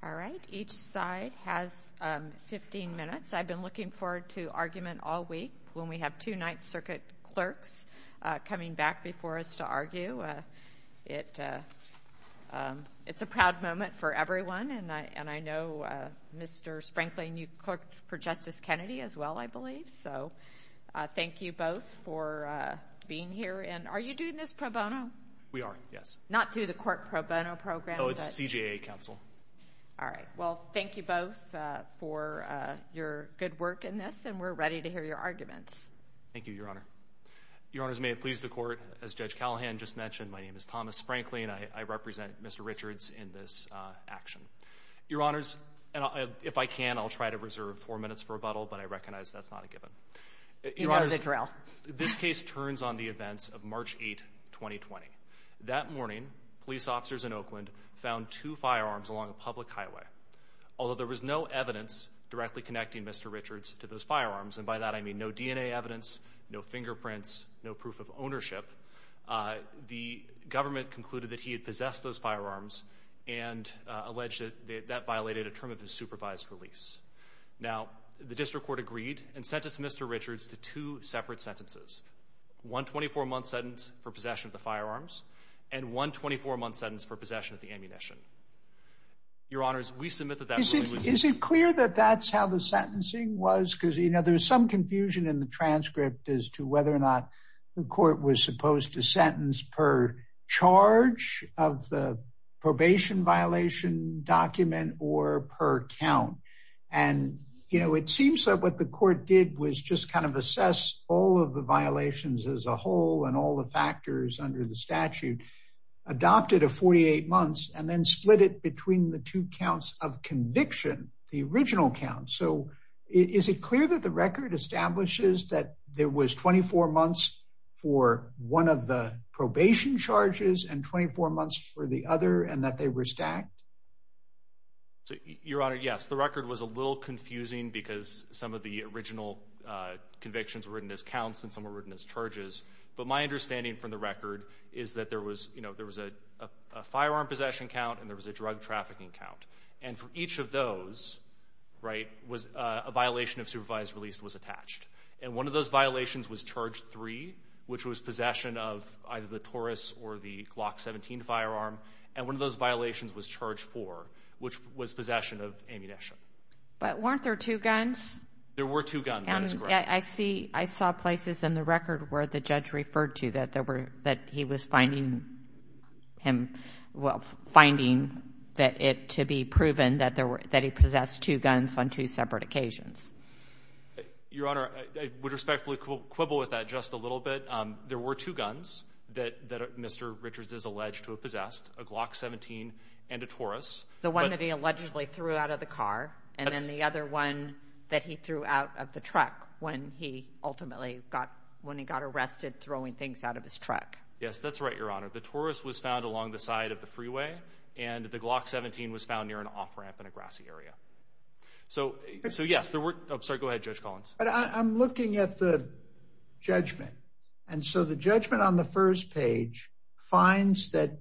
All right, each side has 15 minutes. I've been looking forward to argument all week when we have two Ninth Circuit clerks coming back before us to argue. It's a proud moment for everyone, and I know Mr. Sprankling, you clerked for Justice Kennedy as well, I believe, so thank you both for being here. And are you doing this pro bono? Mr. Sprankling We are, yes. Judge Callahan Not through the court pro bono program, but Mr. Sprankling No, it's CJA counsel. Judge Callahan All right. Well, thank you both for your good work in this, and we're ready to hear your arguments. Mr. Sprankling Thank you, Your Honor. Your Honors, may it please the Court, as Judge Callahan just mentioned, my name is Thomas Sprankling, and I represent Mr. Richards in this action. Your Honors, if I can, I'll try to reserve four minutes for rebuttal, but I recognize that's not a given. Your Honors, this case turns on the events of March 8, 2020. That morning, police officers in Oakland found two firearms along a public highway. Although there was no evidence directly connecting Mr. Richards to those firearms, and by that I mean no DNA evidence, no fingerprints, no proof of ownership, the government concluded that he had possessed those firearms and alleged that that violated a term of his supervised release. Now, the District Court agreed and sentenced Mr. Richards to two separate sentences, one 24-month sentence for possession of the firearms and one 24-month sentence for possession of the ammunition. Your Honors, we submit that that ruling was Is it clear that that's how the sentencing was? Because, you know, there's some confusion in the transcript as to whether or not the per count. And, you know, it seems that what the court did was just kind of assess all of the violations as a whole and all the factors under the statute, adopted a 48 months and then split it between the two counts of conviction, the original count. So is it clear that the record establishes that there was 24 months for one of the probation charges and 24 months for the other and that they were stacked? Your Honor, yes, the record was a little confusing because some of the original convictions were written as counts and some were written as charges. But my understanding from the record is that there was, you know, there was a firearm possession count and there was a drug trafficking count. And for each of those, right, was a violation of supervised release was attached. And one of those violations was charge three, which was possession of either the Taurus or the Glock 17 firearm. And one of those violations was charge four, which was possession of ammunition. But weren't there two guns? There were two guns. I see. I saw places in the record where the judge referred to that there were that he was finding him well, finding that it to be proven that there were that he possessed two guns on two separate occasions. Your Honor, I would respectfully quibble with that just a little bit. There were two guns that Mr. Richards is alleged to have possessed a Glock 17 and a Taurus, the one that he allegedly threw out of the car and then the other one that he threw out of the truck when he ultimately got when he got arrested, throwing things out of his truck. Yes, that's right. Your Honor, the Taurus was found along the side of the freeway and the Glock 17 was found near an off ramp in the Grassy area. So, so yes, there were. Sorry, go ahead, Judge Collins. But I'm looking at the judgment. And so the judgment on the first page finds that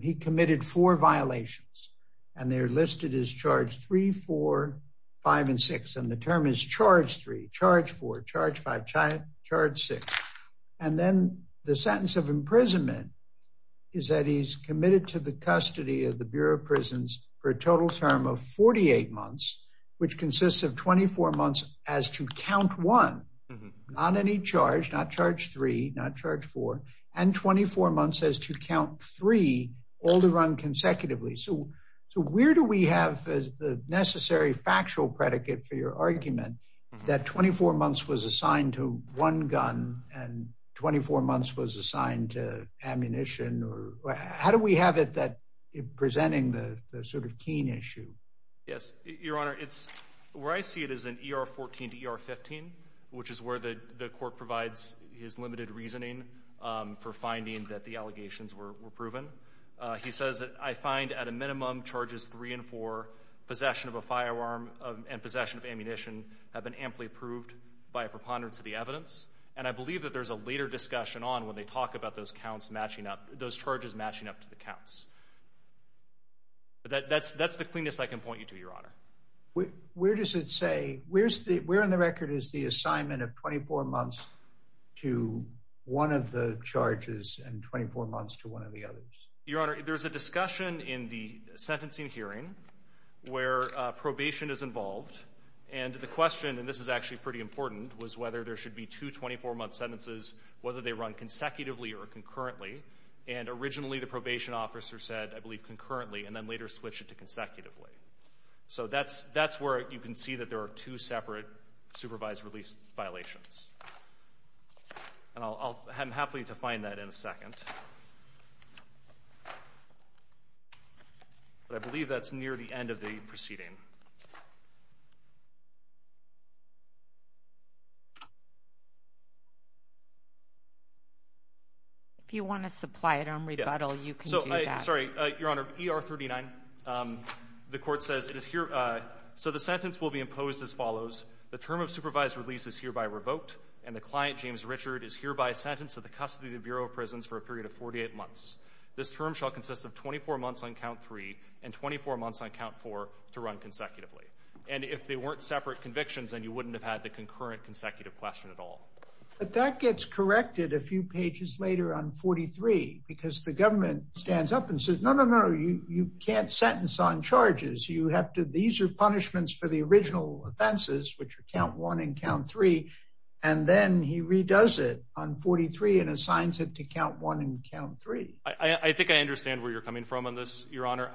he committed four violations and they're listed as charge three, four, five and six. And the term is charge three, charge four, charge five, charge six. And then the sentence of imprisonment is that custody of the Bureau of Prisons for a total term of 48 months, which consists of 24 months as to count one on any charge, not charge three, not charge four and 24 months as to count three all the run consecutively. So, so where do we have the necessary factual predicate for your argument that 24 months was assigned to one gun and 24 months was that presenting the sort of keen issue? Yes, Your Honor, it's where I see it is an ER 14 to ER 15, which is where the court provides his limited reasoning for finding that the allegations were proven. He says that I find at a minimum charges three and four possession of a firearm and possession of ammunition have been amply approved by a preponderance of the evidence. And I believe that there's a later discussion on when they talk about those counts matching up those charges matching up to the counts. But that's that's the cleanest I can point you to your honor. Where does it say? Where's the where on the record is the assignment of 24 months to one of the charges and 24 months to one of the others? Your Honor, there's a discussion in the sentencing hearing where probation is involved. And the question and this is actually pretty important was whether there should be two 24 month sentences, whether they run consecutively or concurrently. And originally, the probation officer said I believe concurrently and then later switch it to consecutively. So that's that's where you can see that there are two separate supervised release violations. And I'll I'm happy to find that in a second. I believe that's near the end of the proceeding. If you want to supply it on rebuttal, you can. So I'm sorry, Your Honor. ER 39. Um, the court says it is here. So the sentence will be imposed as follows. The term of supervised release is hereby revoked, and the client, James Richard, is hereby sentenced to the custody of the Bureau of Prisons for a period of 48 months. This term shall consist of 24 months on count three and 24 months on count four to run consecutively. And if they weren't separate convictions and you wouldn't have had the concurrent consecutive question at all. But that gets corrected a few pages later on 43 because the government stands up and says, No, no, no, you can't sentence on charges. You have to. These are punishments for the original offenses, which count one and count three. And then he redoes it on 43 and assigns it to count one and count three. I think I understand where you're coming from on this, Your Honor.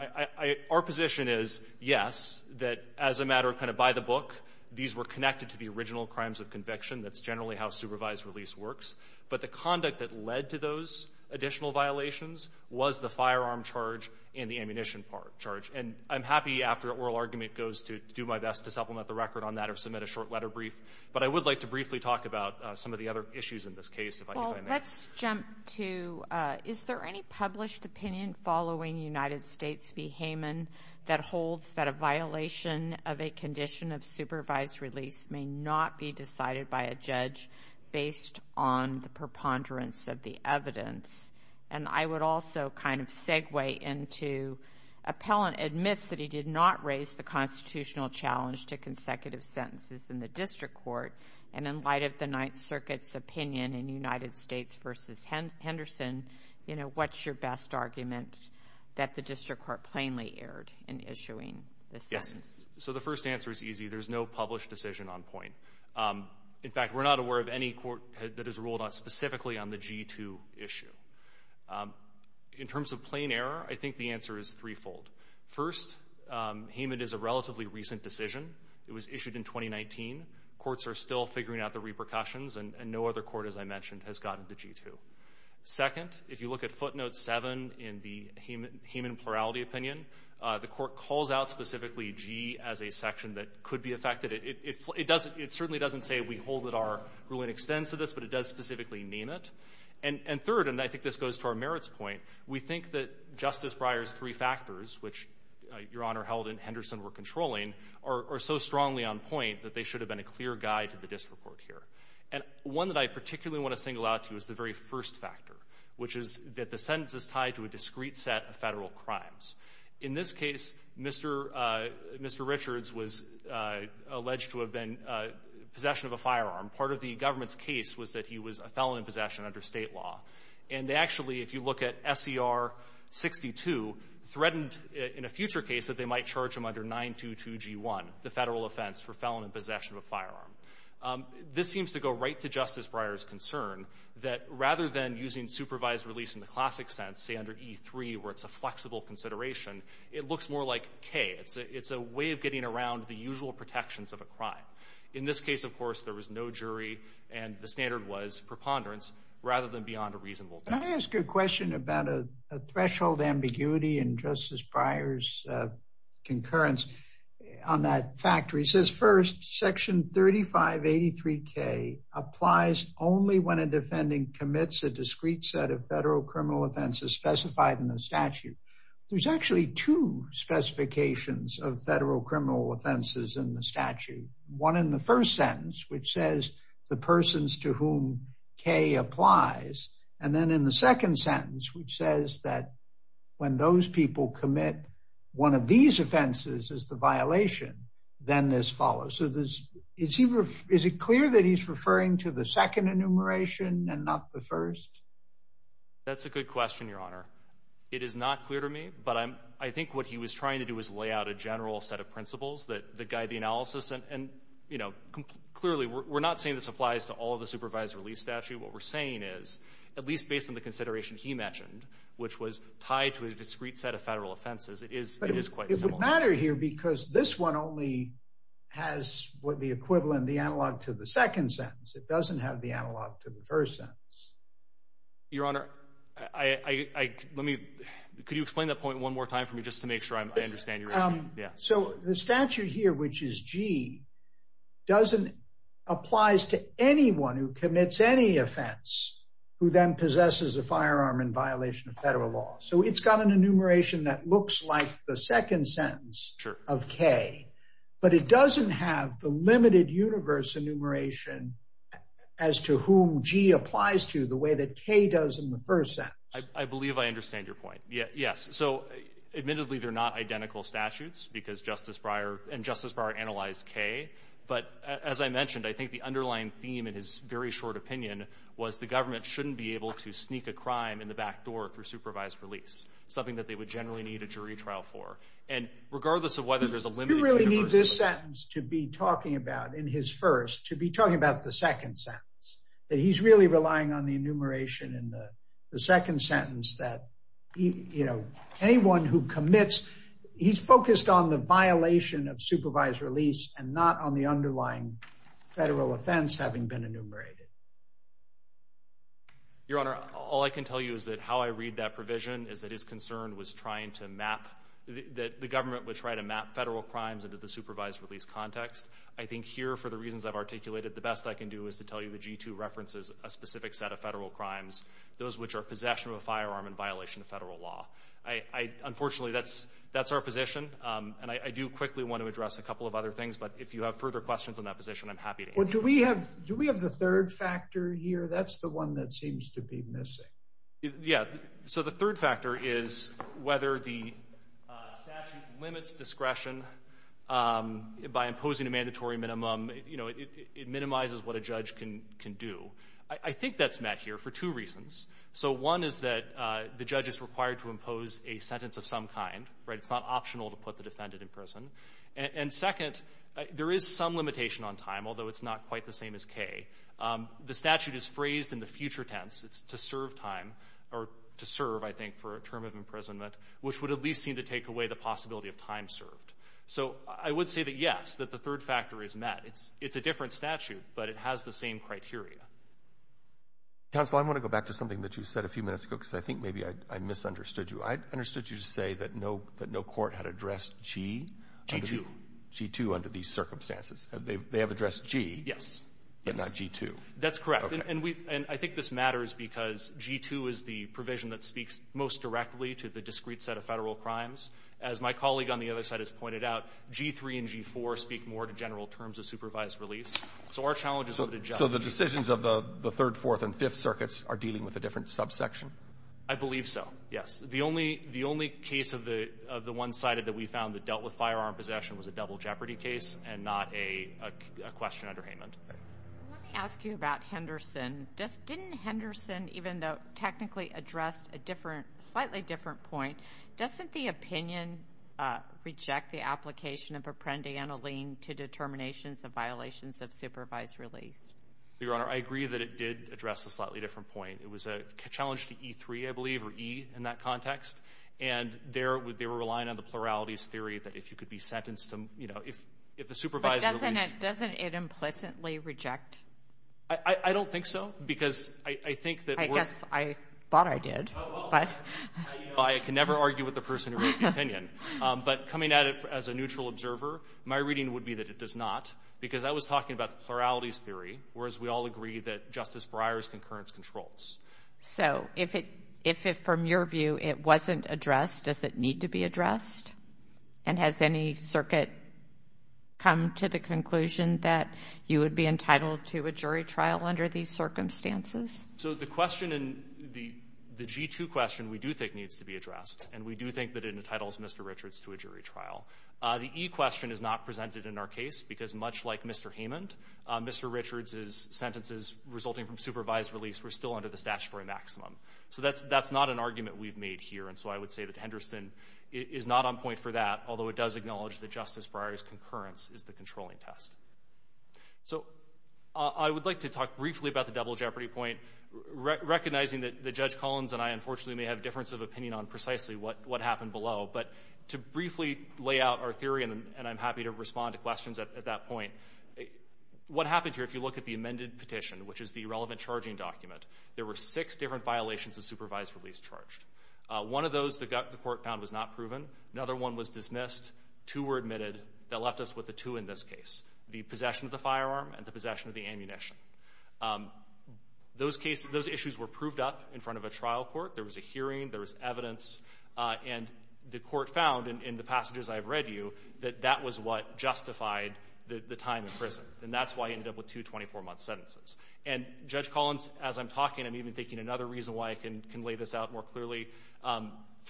Our position is yes, that as a matter of kind of by the book, these were connected to the original crimes of conviction. That's generally how supervised release works. But the conduct that led to those additional violations was the firearm charge in the ammunition part charge, and I'm happy after oral argument goes to do my best to supplement the record on that or submit a short letter brief. But I would like to briefly talk about some of the other issues in this case. Let's jump to Is there any published opinion following United States v Hayman that holds that a violation of a condition of supervised release may not be decided by a judge based on the preponderance of the evidence? And I would also kind of segue into appellant admits that he did not raise the constitutional challenge to consecutive sentences in the district court. And in light of the Ninth Circuit's opinion in United States versus Henderson, you know, what's your best argument that the district court plainly erred in issuing the sentence? So the first answer is easy. There's no published decision on point. In fact, we're not aware of any court that has ruled on specifically on the G to issue. In terms of plain error, I think the answer is threefold. First, Hayman is a relatively recent decision. It was issued in 2019. Courts are still figuring out the repercussions, and no other court, as I mentioned, has gotten to G to second. If you look at footnote seven in the human human plurality opinion, the district court calls out specifically G as a section that could be affected. It certainly doesn't say we hold that our ruling extends to this, but it does specifically name it. And third, and I think this goes to our merits point, we think that Justice Breyer's three factors, which Your Honor held in Henderson were controlling, are so strongly on point that they should have been a clear guide to the district court here. And one that I particularly want to single out to you is the very first factor, which is that the sentence is tied to a discrete set of Federal crimes. In this case, Mr. Mr. Richards was alleged to have been in possession of a firearm. Part of the government's case was that he was a felon in possession under State law. And they actually, if you look at SCR 62, threatened in a future case that they might charge him under 922G1, the Federal offense for felon in possession of a firearm. This seems to go right to Justice Breyer's concern that rather than using supervised release in the classic sense, say under E3, where it's a flexible consideration, it looks more like K. It's a way of getting around the usual protections of a crime. In this case, of course, there was no jury and the standard was preponderance rather than beyond a reasonable doubt. Can I ask you a question about a threshold ambiguity in Justice Breyer's concurrence on that factor? He says, first, Section 3583K applies only when a defendant commits a discrete set of federal criminal offenses specified in the statute. There's actually two specifications of federal criminal offenses in the statute, one in the first sentence, which says the persons to whom K applies, and then in the second sentence, which says that when those people commit one of these offenses as the violation, then this follows. So is it clear that he's referring to the second enumeration and not the first? That's a good question, Your Honor. It is not clear to me, but I think what he was trying to do was lay out a general set of principles that guide the analysis. Clearly, we're not saying this applies to all of the supervised release statute. What we're saying is, at least based on the consideration he mentioned, which was tied to a discrete set of federal offenses, it is quite similar. It doesn't matter here, because this one only has what the equivalent, the analog to the second sentence. It doesn't have the analog to the first sentence. Your Honor, let me, could you explain that point one more time for me, just to make sure I understand? Yeah. So the statute here, which is G, applies to anyone who commits any offense who then possesses a firearm in violation of federal law. So it's got an enumeration that looks like the second sentence of K, but it doesn't have the limited universe enumeration as to whom G applies to, the way that K does in the first sentence. I believe I understand your point. Yes. So admittedly, they're not identical statutes, because Justice Breyer, and Justice Breyer analyzed K. But as I mentioned, I think the underlying theme in his very short opinion was the government shouldn't be able to sneak a crime in the back door through supervised release, something that they would generally need a jury trial for. And regardless of whether there's a limited universe... Do you really need this sentence to be talking about, in his first, to be talking about the second sentence? That he's really relying on the enumeration in the second sentence that, you know, anyone who commits, he's focused on the violation of supervised release and not on the underlying federal offense having been enumerated. Your Honor, all I can tell you is that how I read that provision is that his concern was trying to map, that the government would try to map federal crimes into the supervised release context. I think here, for the reasons I've articulated, the best I can do is to tell you that G2 references a specific set of federal crimes, those which are possession of a firearm in violation of federal law. Unfortunately, that's our position. And I do quickly want to address a couple of other things. But if you have further questions on that position, I'm happy to answer. Do we have the third factor here? That's the one that seems to be missing. Yeah. So the third factor is whether the statute limits discretion by imposing a mandatory minimum. You know, it minimizes what a judge can do. I think that's met here for two reasons. So one is that the judge is required to impose a sentence of some kind, right? It's not optional to put the defendant in prison. And second, there is some limitation on time, although it's not quite the same as K. The statute is phrased in the future tense. It's to serve time or to serve, I think, for a term of imprisonment, which would at least seem to take away the possibility of time served. So I would say that, yes, that the third factor is met. It's a different statute, but it has the same criteria. Roberts. Counsel, I want to go back to something that you said a few minutes ago, because I think maybe I misunderstood you. I understood you to say that no court had addressed G? G2. G2 under these circumstances. They have addressed G. Yes. But not G2. That's correct. And I think this matters because G2 is the provision that speaks most directly to the discrete set of Federal crimes. As my colleague on the other side has pointed out, G3 and G4 speak more to general terms of supervised release. So our challenge is to adjust. So the decisions of the third, fourth, and fifth circuits are dealing with a different subsection? I believe so, yes. The only case of the one sided that we found that dealt with firearm possession was a double jeopardy case and not a question under Haymond. Let me ask you about Henderson. Just didn't Henderson, even though technically addressed a different, slightly different point, doesn't the opinion reject the application of apprendi and a lean to determinations of violations of supervised release? Your Honor, I agree that it did address a slightly different point. It was a challenge to E3, I believe, or E in that context. And there they were relying on the pluralities theory that if you could be sentenced to, you know, if if the supervisor Doesn't it implicitly reject? I don't think so. Because I think that I thought I did. But I can never argue with the person who wrote the opinion. But coming at it as a neutral observer, my reading would be that it does not. Because I was talking about the pluralities theory, whereas we all agree that Justice Breyer's concurrence controls. So if it if it from your view, it wasn't addressed, does it need to be addressed? And has any circuit come to the conclusion that you would be entitled to a jury trial under these circumstances? So the question in the G2 question we do think needs to be addressed, and we do think that it entitles Mr. Richards to a jury trial. The E question is not presented in our case, because much like Mr. Heyman, Mr. Richards is sentences resulting from supervised release. We're still under the statutory maximum. So that's that's not an argument we've made here. And so I would say that Henderson is not on point for that, although it does acknowledge that Justice Breyer's concurrence is the controlling test. So I would like to talk briefly about the double jeopardy point, recognizing that the Judge Collins and I unfortunately may have difference of opinion on precisely what what happened below. But to briefly lay out our theory, and I'm happy to respond to questions at that point. What happened here? If you look at the amended petition, which is the relevant charging document, there were six different violations of supervised release charged. One of those that got the court found was not proven. Another one was dismissed. Two were admitted that left us with the two in this case, the possession of the firearm and the possession of the ammunition. Those cases, those issues were proved up in front of a trial court. There was a hearing, there was evidence, and the court found in the passages I've read you that that was what justified the time in prison. And that's why I ended up with two 24 month sentences. And Judge Collins, as I'm talking, I'm even taking another reason why I can lay this out more clearly.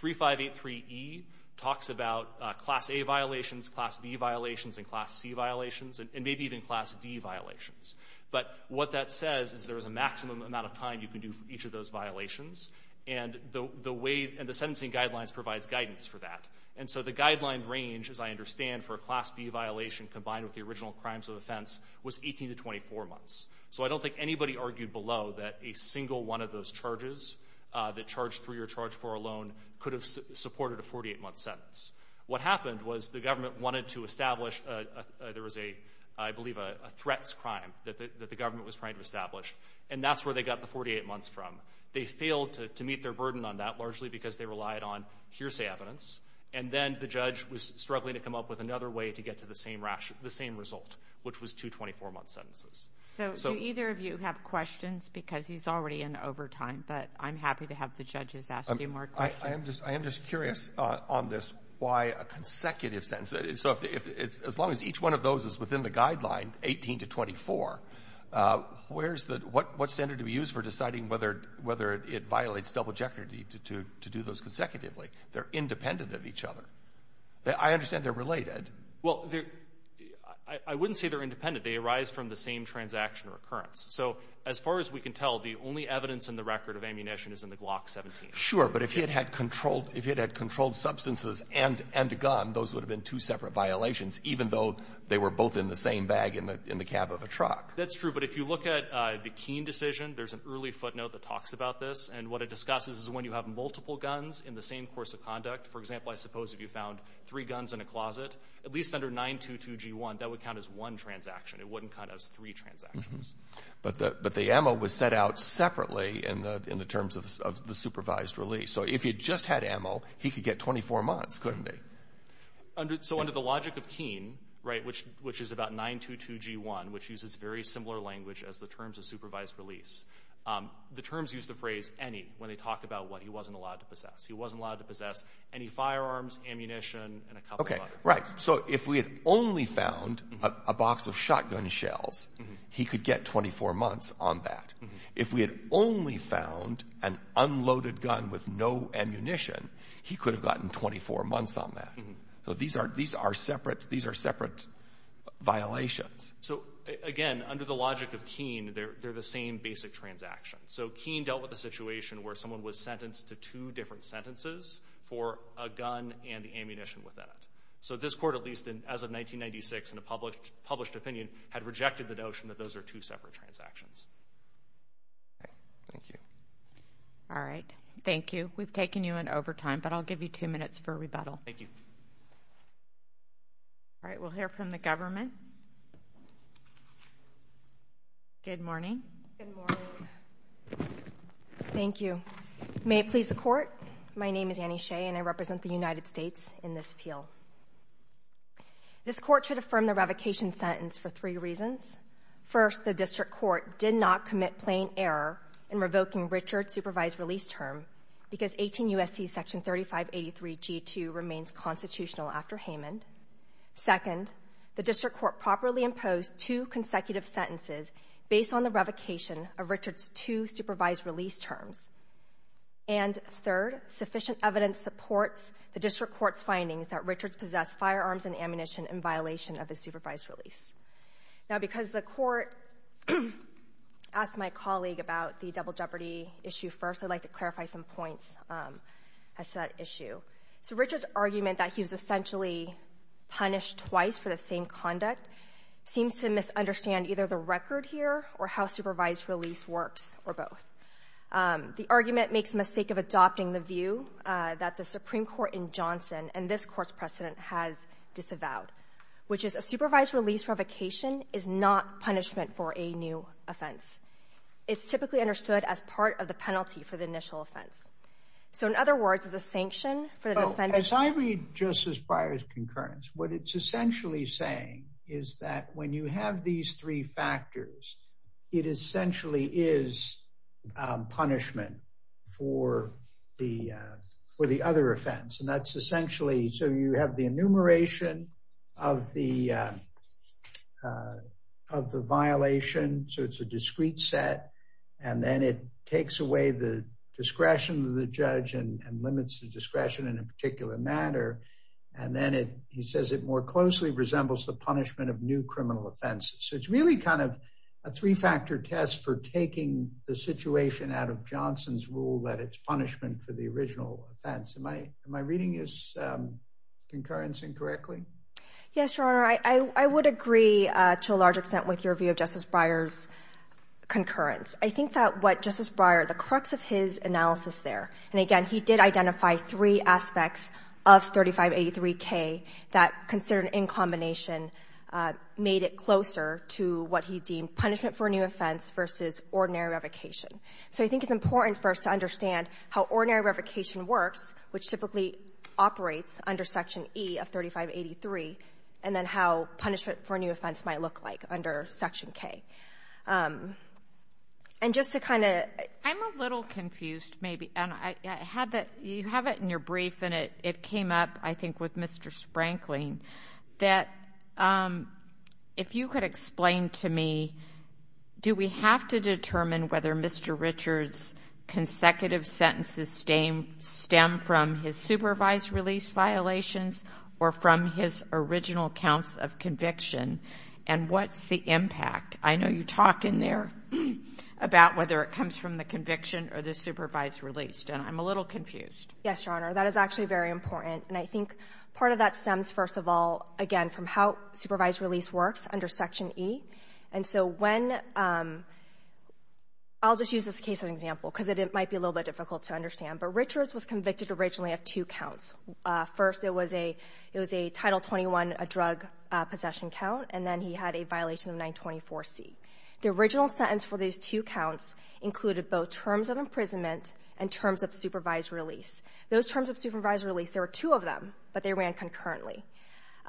3583E talks about Class A violations, Class B violations, and Class C violations, and maybe even Class D violations. But what that says is there was a maximum amount of time you can do for each of those violations. And the way, and the sentencing guidelines provides guidance for that. And so the guideline range, as I understand, for a Class B violation combined with the original crimes of offense was 18 to 24 months. So I don't think anybody argued below that a ny of those charges, the charge three or charge four alone, could have supported a 48 month sentence. What happened was the government wanted to establish, there was a, I believe, a threats crime that the government was trying to establish. And that's where they got the 48 months from. They failed to meet their burden on that, largely because they relied on hearsay evidence. And then the judge was struggling to come up with another way to get to the same result, which was two 24 month sentences. So do either of you have over time? But I'm happy to have the judges ask you more questions. Roberts. I am just curious on this why a consecutive sentence. So if it's, as long as each one of those is within the guideline, 18 to 24, where's the, what standard do we use for deciding whether it violates double jeopardy to do those consecutively? They're independent of each other. I understand they're related. Well, I wouldn't say they're independent. They arise from the same transaction recurrence. So as far as we can tell, the only evidence in the record of ammunition is in the Glock 17. Sure. But if it had controlled, if it had controlled substances and a gun, those would have been two separate violations, even though they were both in the same bag in the cab of a truck. That's true. But if you look at the Keene decision, there's an early footnote that talks about this. And what it discusses is when you have multiple guns in the same course of conduct, for example, I suppose if you found three guns in a closet, at least under 922G1, that would count as one transaction. It wouldn't count as three transactions. But the ammo was set out separately in the terms of the supervised release. So if you just had ammo, he could get 24 months, couldn't he? So under the logic of Keene, right, which is about 922G1, which uses very similar language as the terms of supervised release, the terms use the phrase any when they talk about what he wasn't allowed to possess. He wasn't allowed to possess any firearms, ammunition, and a couple of other things. So if we had only found a box of shotgun shells, he could get 24 months on that. If we had only found an unloaded gun with no ammunition, he could have gotten 24 months on that. So these are separate violations. So again, under the logic of Keene, they're the same basic transaction. So Keene dealt with a situation where someone was sentenced to two different sentences for a So this court, at least as of 1996, in a published opinion, had rejected the notion that those are two separate transactions. All right. Thank you. All right. Thank you. We've taken you in overtime, but I'll give you two minutes for rebuttal. Thank you. All right. We'll hear from the government. Good morning. Good morning. Thank you. May it please the court. My name is Annie Shea, and I represent the United States in this appeal. This court should affirm the revocation sentence for three reasons. First, the district court did not commit plain error in revoking Richard's supervised release term because 18 U.S.C. section 3583 G2 remains constitutional after Haman. Second, the district court properly imposed two consecutive sentences based on the revocation of Richard's two supervised release terms. And third, sufficient evidence supports the district court's findings that firearms and ammunition in violation of the supervised release. Now, because the court asked my colleague about the double jeopardy issue first, I'd like to clarify some points as to that issue. So Richard's argument that he was essentially punished twice for the same conduct seems to misunderstand either the record here or how supervised release works, or both. The argument makes mistake of adopting the view that the Supreme Court in this case has disavowed, which is a supervised release revocation is not punishment for a new offense. It's typically understood as part of the penalty for the initial offense. So in other words, it's a sanction for the defense. As I read Justice Breyer's concurrence, what it's essentially saying is that when you have these three factors, it essentially is punishment for the other offense. And that's essentially, so you have the enumeration of the violation, so it's a discrete set, and then it takes away the discretion of the judge and limits the discretion in a particular matter. And then he says it more closely resembles the punishment of new criminal offenses. So it's really kind of a three-factor test for taking the situation out of the original offense. Am I reading this concurrence incorrectly? Yes, Your Honor. I would agree to a large extent with your view of Justice Breyer's concurrence. I think that what Justice Breyer, the crux of his analysis there, and again, he did identify three aspects of 3583K that, considered in combination, made it closer to what he deemed punishment for a new offense versus ordinary revocation. So I think it's important for us to understand how ordinary revocation works, which typically operates under Section E of 3583, and then how punishment for a new offense might look like under Section K. And just to kind of — I'm a little confused, maybe. And I had the — you have it in your brief, and it came up, I think, with Mr. Sprankling, that if you could explain to me, do we have to determine whether Mr. Sprankling and Mr. Richards' consecutive sentences stem from his supervised release violations or from his original counts of conviction, and what's the impact? I know you talk in there about whether it comes from the conviction or the supervised release, and I'm a little confused. Yes, Your Honor. That is actually very important. And I think part of that stems, first of all, again, from how supervised release works under Section E. And so when — I'll just use this case as an example, because it might be a little bit difficult to understand. But Richards was convicted originally of two counts. First, it was a Title 21, a drug possession count, and then he had a violation of 924C. The original sentence for these two counts included both terms of imprisonment and terms of supervised release. Those terms of supervised release, there were two of them, but they ran concurrently.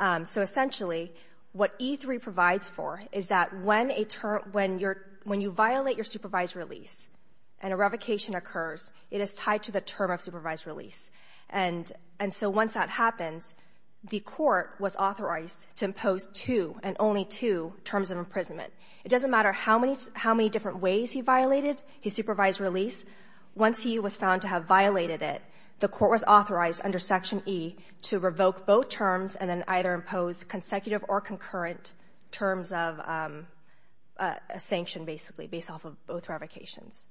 So essentially, what E3 provides for is that when a term — when you're — when you violate your supervised release and a revocation occurs, it is tied to the term of supervised release. And so once that happens, the Court was authorized to impose two, and only two, terms of imprisonment. It doesn't matter how many — how many different ways he violated his supervised release. Once he was found to have violated it, the Court was authorized under Section E to revoke both terms and then either impose consecutive or concurrent terms of a sanction, basically, based off of both revocations.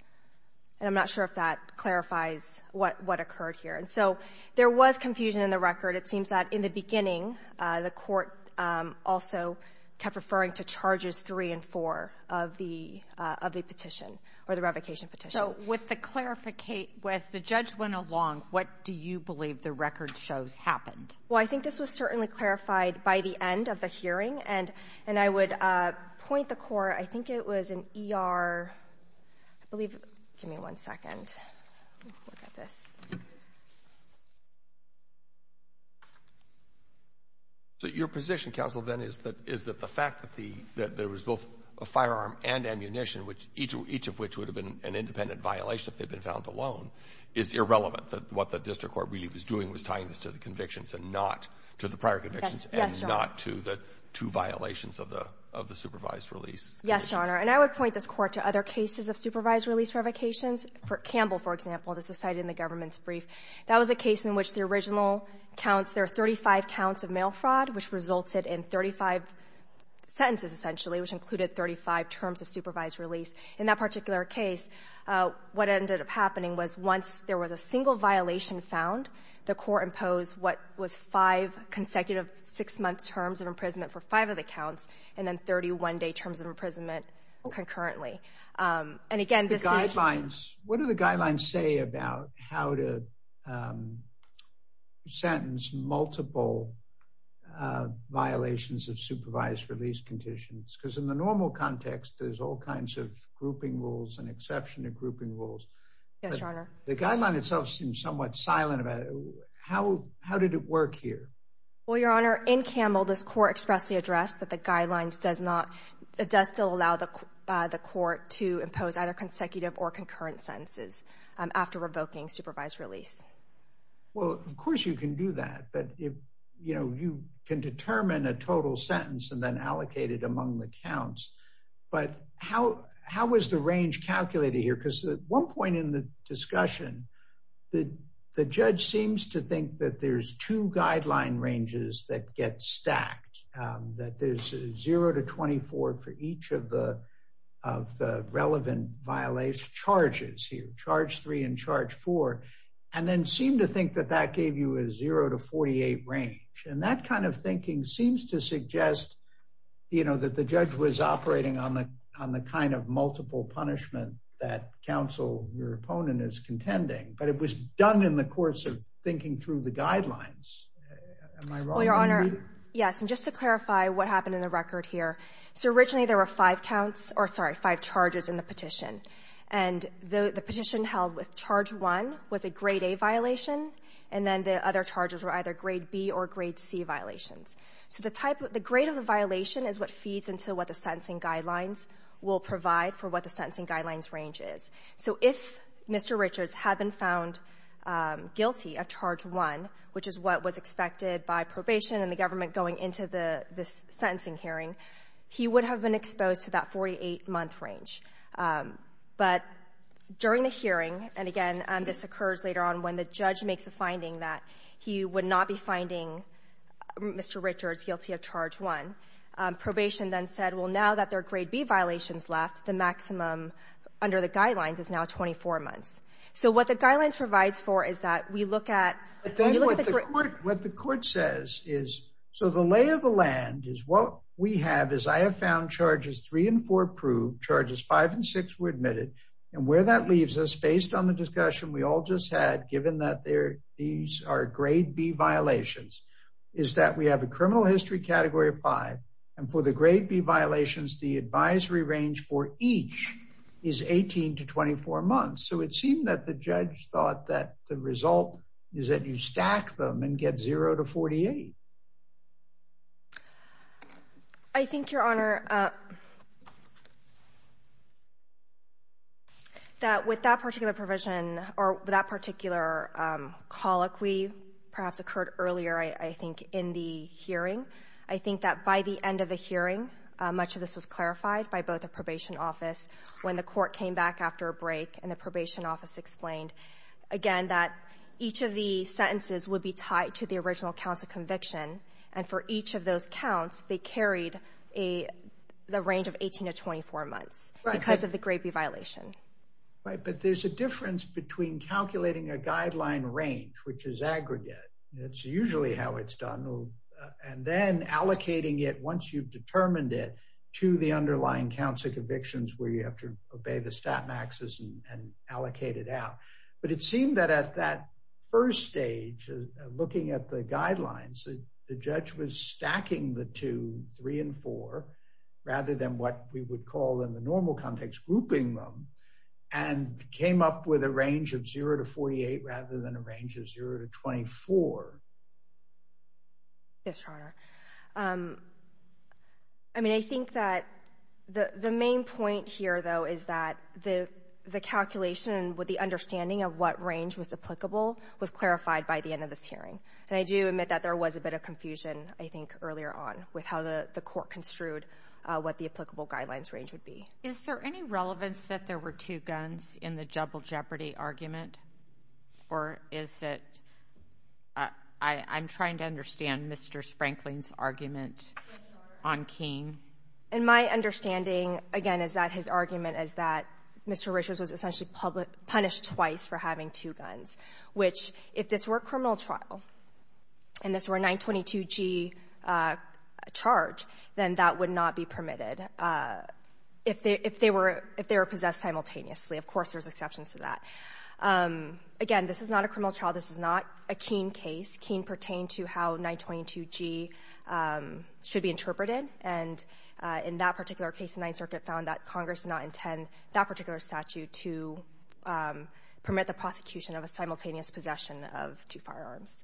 And I'm not sure if that clarifies what occurred here. And so there was confusion in the record. It seems that in the beginning, the Court also kept referring to Charges 3 and 4 of the — of the petition, or the revocation petition. So with the — as the judge went along, what do you believe the record shows happened? Well, I think this was certainly clarified by the end of the hearing. And — and I would point the Court. I think it was an E.R. — I believe — give me one second. Let me look at this. So your position, counsel, then, is that — is that the fact that the — that there was both a firearm and ammunition, which each — each of which would have been an independent violation if they'd been found alone, is irrelevant, that what the district court really was doing was tying this to the convictions and not to the prior convictions and not to the — to violations of the — of the supervised release convictions? Yes, Your Honor. And I would point this Court to other cases of supervised release revocations. For Campbell, for example, this was cited in the government's brief. That was a case in which the original counts — there were 35 counts of mail fraud, which resulted in 35 sentences, essentially, which included 35 terms of supervised release. In that particular case, what ended up happening was once there was a single violation found, the Court imposed what was five consecutive six-month terms of imprisonment for five of the counts and then 31-day terms of imprisonment concurrently. And again, this is — The guidelines — what do the guidelines say about how to sentence multiple violations of supervised release conditions? Because in the normal context, there's all kinds of grouping rules and exception to grouping Yes, Your Honor. The guideline itself seems somewhat silent about it. How — how did it work here? Well, Your Honor, in Campbell, this Court expressly addressed that the guidelines does not — it does still allow the Court to impose either consecutive or concurrent sentences after revoking supervised release. Well, of course you can do that. But if — you know, you can determine a total sentence and then allocate it among the counts. But how — how was the range calculated here? Because at one point in the discussion, the — the judge seems to think that there's two guideline ranges that get stacked, that there's a zero to 24 for each of the — of the relevant violation charges here, charge three and charge four, and then seemed to think that that gave you a zero to 48 range. And that kind of thinking seems to suggest, you know, that the judge was operating on the — on the kind of multiple punishment that counsel, your opponent, is contending. But it was done in the course of thinking through the guidelines. Am I wrong? Well, Your Honor — Indeed? Yes. And just to clarify what happened in the record here. So, originally, there were five counts — or, sorry, five charges in the petition. And the petition held with charge one was a grade A violation, and then the other charges were either grade B or grade C violations. So the type of — the grade of the violation is what feeds into what the sentencing guidelines will provide for what the sentencing guidelines range is. So if Mr. Richards had been found guilty of charge one, which is what was expected by probation and the government going into the — this sentencing hearing, he would have been exposed to that 48-month range. But during the hearing — and, again, this occurs later on when the judge makes the finding that he would not be finding Mr. Richards guilty of charge one — probation then said, well, now that there are grade B violations left, the maximum under the guidelines is now 24 months. So what the guidelines provides for is that we look at — But then what the court — what the court says is, so the lay of the land is what we have is, I have found charges three and four approved, charges five and six were admitted, and where that leaves us, based on the discussion we all just had, given that there — these are grade B violations, is that we have a criminal history category of five, and for the grade B violations, the advisory range for each is 18 to 24 months. So it seemed that the judge thought that the result is that you stack them and get zero to 48. I think, Your Honor, that with that particular provision — or that particular colloquy perhaps occurred earlier, I think, in the hearing. I think that by the end of the hearing, much of this was clarified by both the probation office when the court came back after a break, and the probation office explained, again, that each of the sentences would be tied to the original counts of conviction. And for each of those counts, they carried a — the range of 18 to 24 months because of the grade B violation. Right. But there's a difference between calculating a guideline range, which is aggregate. That's usually how it's done. And then allocating it, once you've determined it, to the underlying counts of convictions where you have to obey the stat maxes and allocate it out. But it seemed that at that first stage, looking at the guidelines, the judge was stacking the two, three and four, rather than what we would call in the normal context grouping them, and came up with a range of zero to 48 rather than a range of zero to 24. Yes, Your Honor. I mean, I think that the main point here, though, is that the calculation with the understanding of what range was applicable was clarified by the end of this hearing. And I do admit that there was a bit of confusion, I think, earlier on with how the court construed what the applicable guidelines range would be. Is there any relevance that there were two guns in the double jeopardy argument? Or is it — I'm trying to understand Mr. Sprankling's argument on Keene. In my understanding, again, is that his argument is that Mr. Richards was essentially punished twice for having two guns, which, if this were a criminal trial and this were a 922G charge, then that would not be permitted if they were possessed simultaneously. Of course, there's exceptions to that. Again, this is not a criminal trial. This is not a Keene case. Keene pertained to how 922G should be interpreted. And in that particular case, the Ninth Circuit found that Congress did not intend that particular statute to permit the prosecution of a simultaneous possession of two firearms.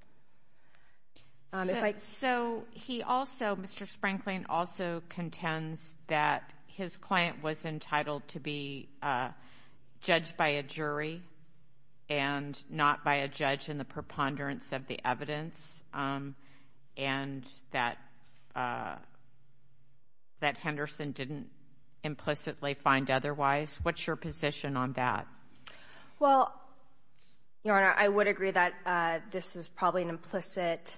So he also — Mr. Sprankling also contends that his client was entitled to be judged by a jury and not by a judge in the preponderance of the evidence, and that Henderson didn't implicitly find otherwise. What's your position on that? Well, Your Honor, I would agree that this is probably an implicit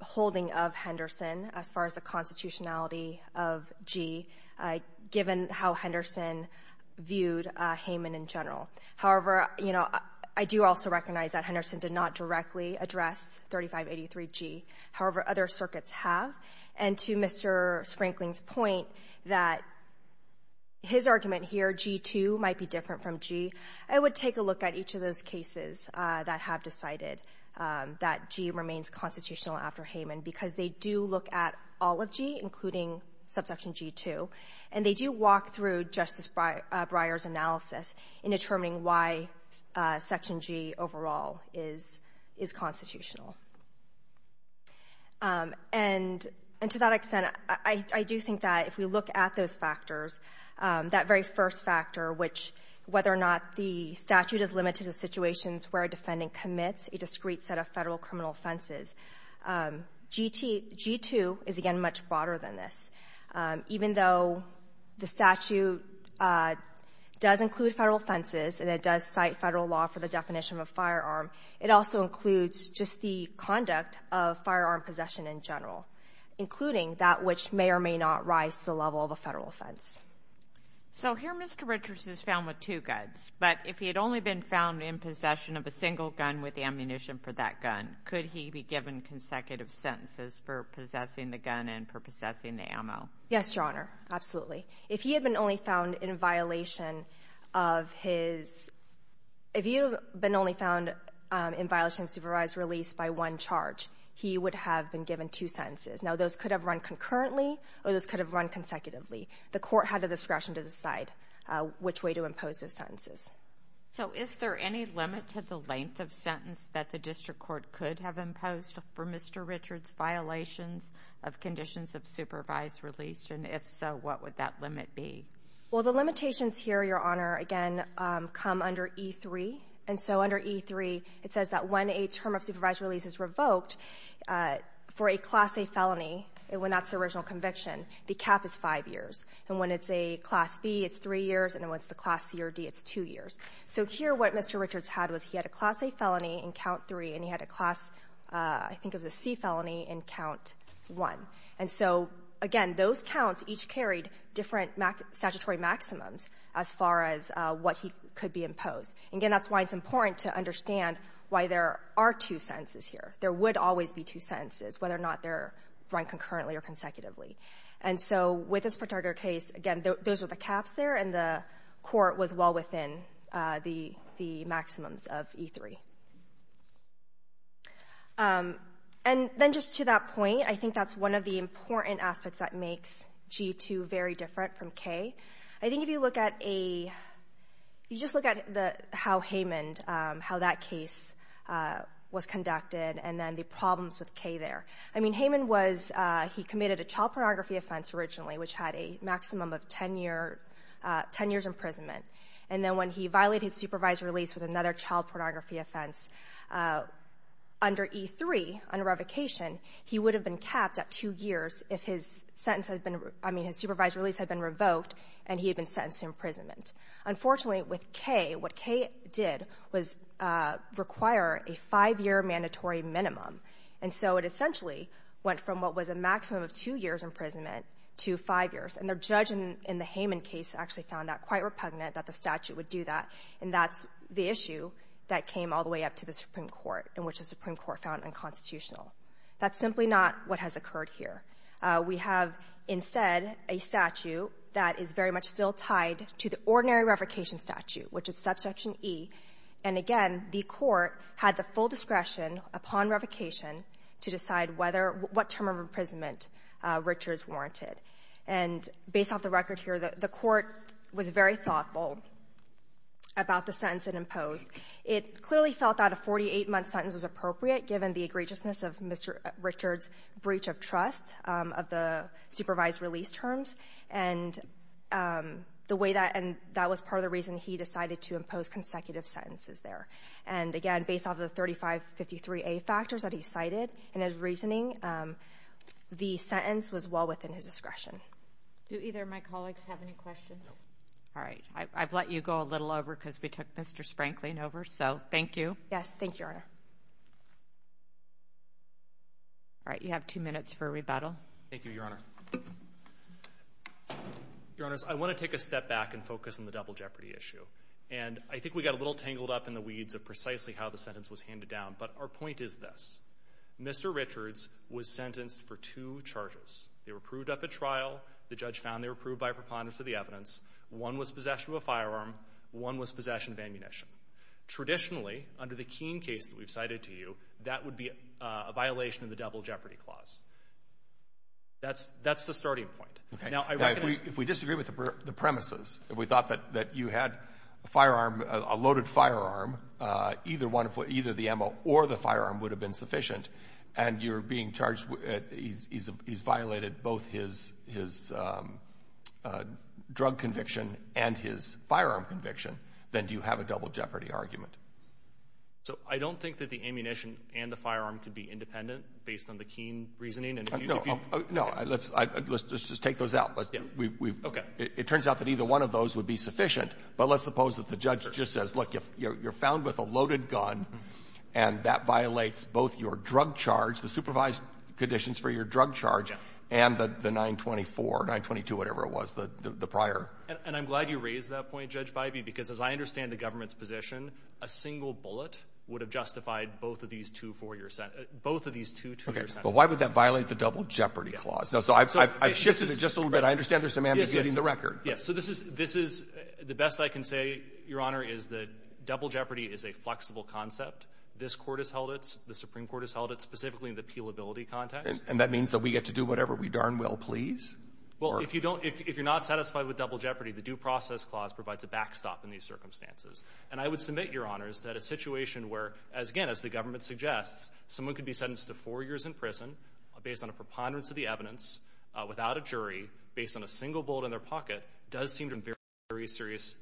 holding of Henderson as far as the constitutionality of G, given how Henderson viewed Hayman in general. However, you know, I do also recognize that Henderson did not directly address 3583G, however other circuits have. And to Mr. Sprankling's point that his argument here, G-2, might be different from G, I would take a look at each of those cases that have decided that G remains constitutional after Hayman, because they do look at all of G, including subsection G-2, and they do walk through Justice Breyer's analysis in determining why Section G overall is constitutional. And to that extent, I do think that if we look at those factors, that very first factor, which — whether or not the statute is limited to situations where a defendant commits a discrete set of Federal criminal offenses, G-2 is, again, much broader than this. Even though the statute does include Federal offenses and it does cite Federal law for the definition of a firearm, it also includes just the conduct of firearm possession in general, including that which may or may not rise to the level of a Federal offense. So here Mr. Richards is found with two guns. But if he had only been found in possession of a single gun with the ammunition for that gun, could he be given consecutive sentences for possessing the gun and for possessing the ammo? Yes, Your Honor, absolutely. If he had been only found in violation of his — if he had been only found in violation of supervised release by one charge, he would have been given two sentences. Now, those could have run concurrently or those could have run consecutively. The Court had the discretion to decide which way to impose those sentences. So is there any limit to the length of sentence that the district court could have imposed for Mr. Richards' violations of conditions of supervised release? If so, what would that limit be? Well, the limitations here, Your Honor, again, come under E-3. And so under E-3, it says that when a term of supervised release is revoked for a Class A felony, when that's the original conviction, the cap is five years. And when it's a Class B, it's three years. And when it's the Class C or D, it's two years. So here what Mr. Richards had was he had a Class A felony in count three and he had a Class — I think it was a C felony in count one. And so, again, those counts each carried different statutory maximums as far as what he could be imposed. Again, that's why it's important to understand why there are two sentences here. There would always be two sentences, whether or not they're run concurrently or consecutively. And so with this particular case, again, those are the caps there, and the Court was well within the — the maximums of E-3. And then just to that point, I think that's one of the important aspects that makes G-2 very different from K. I think if you look at a — if you just look at the — how Haymond — how that case was conducted and then the problems with K there. I mean, Haymond was — he committed a child pornography offense originally, which had a maximum of 10-year — 10 years' imprisonment. And then when he violated supervised release with another child pornography offense under E-3, under revocation, he would have been capped at 2 years if his sentence had been — I mean, his supervised release had been revoked and he had been sentenced to imprisonment. Unfortunately, with K, what K did was require a 5-year mandatory minimum. And so it essentially went from what was a maximum of 2 years' imprisonment to 5 years. And the judge in the Haymond case actually found that quite repugnant that the statute would do that. And that's the issue that came all the way up to the Supreme Court, in which the Supreme Court found unconstitutional. That's simply not what has occurred here. We have, instead, a statute that is very much still tied to the ordinary revocation statute, which is Subsection E. And again, the Court had the full discretion upon revocation to decide whether — what term of imprisonment Richards warranted. And based off the record here, the Court was very thoughtful about the sentence it imposed. It clearly felt that a 48-month sentence was appropriate, given the egregiousness of Mr. Richards' breach of trust of the supervised release terms. And the way that — and that was part of the reason he decided to impose consecutive sentences there. And again, based off of the 3553A factors that he cited in his reasoning, the sentence was well within his discretion. Do either of my colleagues have any questions? No. All right. I've let you go a little over because we took Mr. Sprankling over. So, thank you. Yes. Thank you, Your Honor. All right. You have two minutes for rebuttal. Thank you, Your Honor. Your Honors, I want to take a step back and focus on the double jeopardy issue. And I think we got a little tangled up in the weeds of precisely how the sentence was handed down. But our point is this. Mr. Richards was sentenced for two charges. They were proved up at trial. The judge found they were proved by a preponderance of the evidence. One was possession of a firearm. One was possession of ammunition. Traditionally, under the Keene case that we've cited to you, that would be a violation of the double jeopardy clause. That's — that's the starting point. Okay. Now, I recognize — If we disagree with the premises, if we thought that — that you had a firearm — a loaded firearm, either one of — either the ammo or the firearm would have been sufficient, and you're being charged — he's violated both his drug conviction and his firearm conviction, then do you have a double jeopardy argument? So, I don't think that the ammunition and the firearm could be independent, based on the Keene reasoning. And if you — No. No. Let's — let's just take those out. Let's — we've — Okay. It turns out that either one of those would be sufficient. But let's suppose that the judge just says, look, you're found with a loaded gun, and that violates both your drug charge, the supervised conditions for your drug charge, and the 924, 922, whatever it was, the prior — And I'm glad you raised that point, Judge Bybee, because as I understand the government's position, a single bullet would have justified both of these two four-year — both of these two two-year sentences. But why would that violate the double jeopardy clause? So I've shifted it just a little bit. I understand there's some ambiguity in the record. Yes. So this is — this is — the best I can say, Your Honor, is that double jeopardy is a flexible concept. This Court has held it — the Supreme Court has held it specifically in the appealability context. And that means that we get to do whatever we darn well please? Well, if you don't — if you're not satisfied with double jeopardy, the due process clause provides a backstop in these circumstances. And I would submit, Your Honors, that a situation where, again, as the government suggests, someone could be sentenced to four years in prison, based on a preponderance of the evidence, without a jury, based on a single bullet in their pocket, does seem to be very serious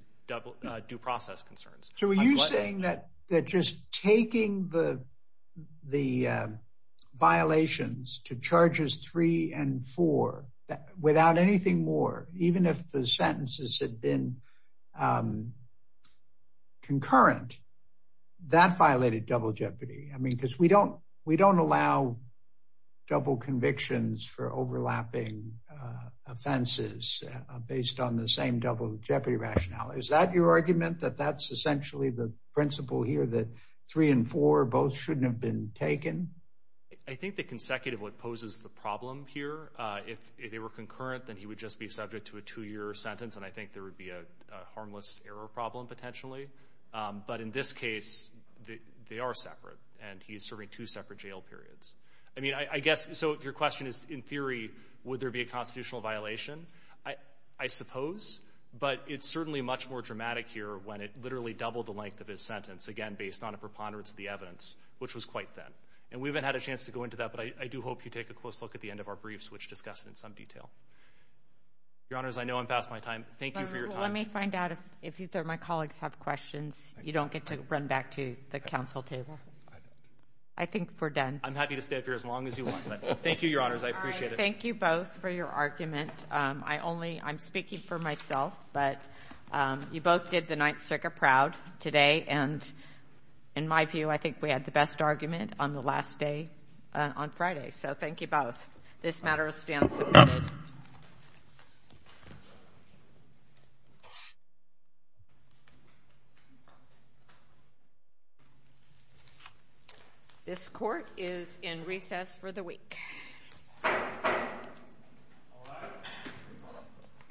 due process concerns. So are you saying that just taking the violations to charges three and four, without anything more, even if the sentences had been concurrent, that violated double jeopardy? I mean, because we don't — we don't allow double convictions for overlapping offenses based on the same double jeopardy rationale. Is that your argument, that that's essentially the principle here, that three and four both shouldn't have been taken? I think the consecutive one poses the problem here. If they were concurrent, then he would just be subject to a two-year sentence, and I think there would be a harmless error problem, potentially. But in this case, they are separate, and he's serving two separate jail periods. I mean, I guess — so your question is, in theory, would there be a constitutional violation? I suppose, but it's certainly much more dramatic here when it literally doubled the length of his sentence, again, based on a preponderance of the evidence, which was quite thin. And we haven't had a chance to go into that, but I do hope you take a close look at the end of our briefs, which discuss it in some detail. Your Honors, I know I'm past my time. Thank you for your time. Let me find out if either of my colleagues have questions. You don't get to run back to the Council table. I think we're done. I'm happy to stay up here as long as you want, but thank you, Your Honors. I appreciate it. Thank you both for your argument. I only — I'm speaking for myself, but you both did the Ninth Circuit proud today, and in my view, I think we had the best argument on the last day on Friday. So thank you both. This matter is now submitted. Thank you. This Court is in recess for the week.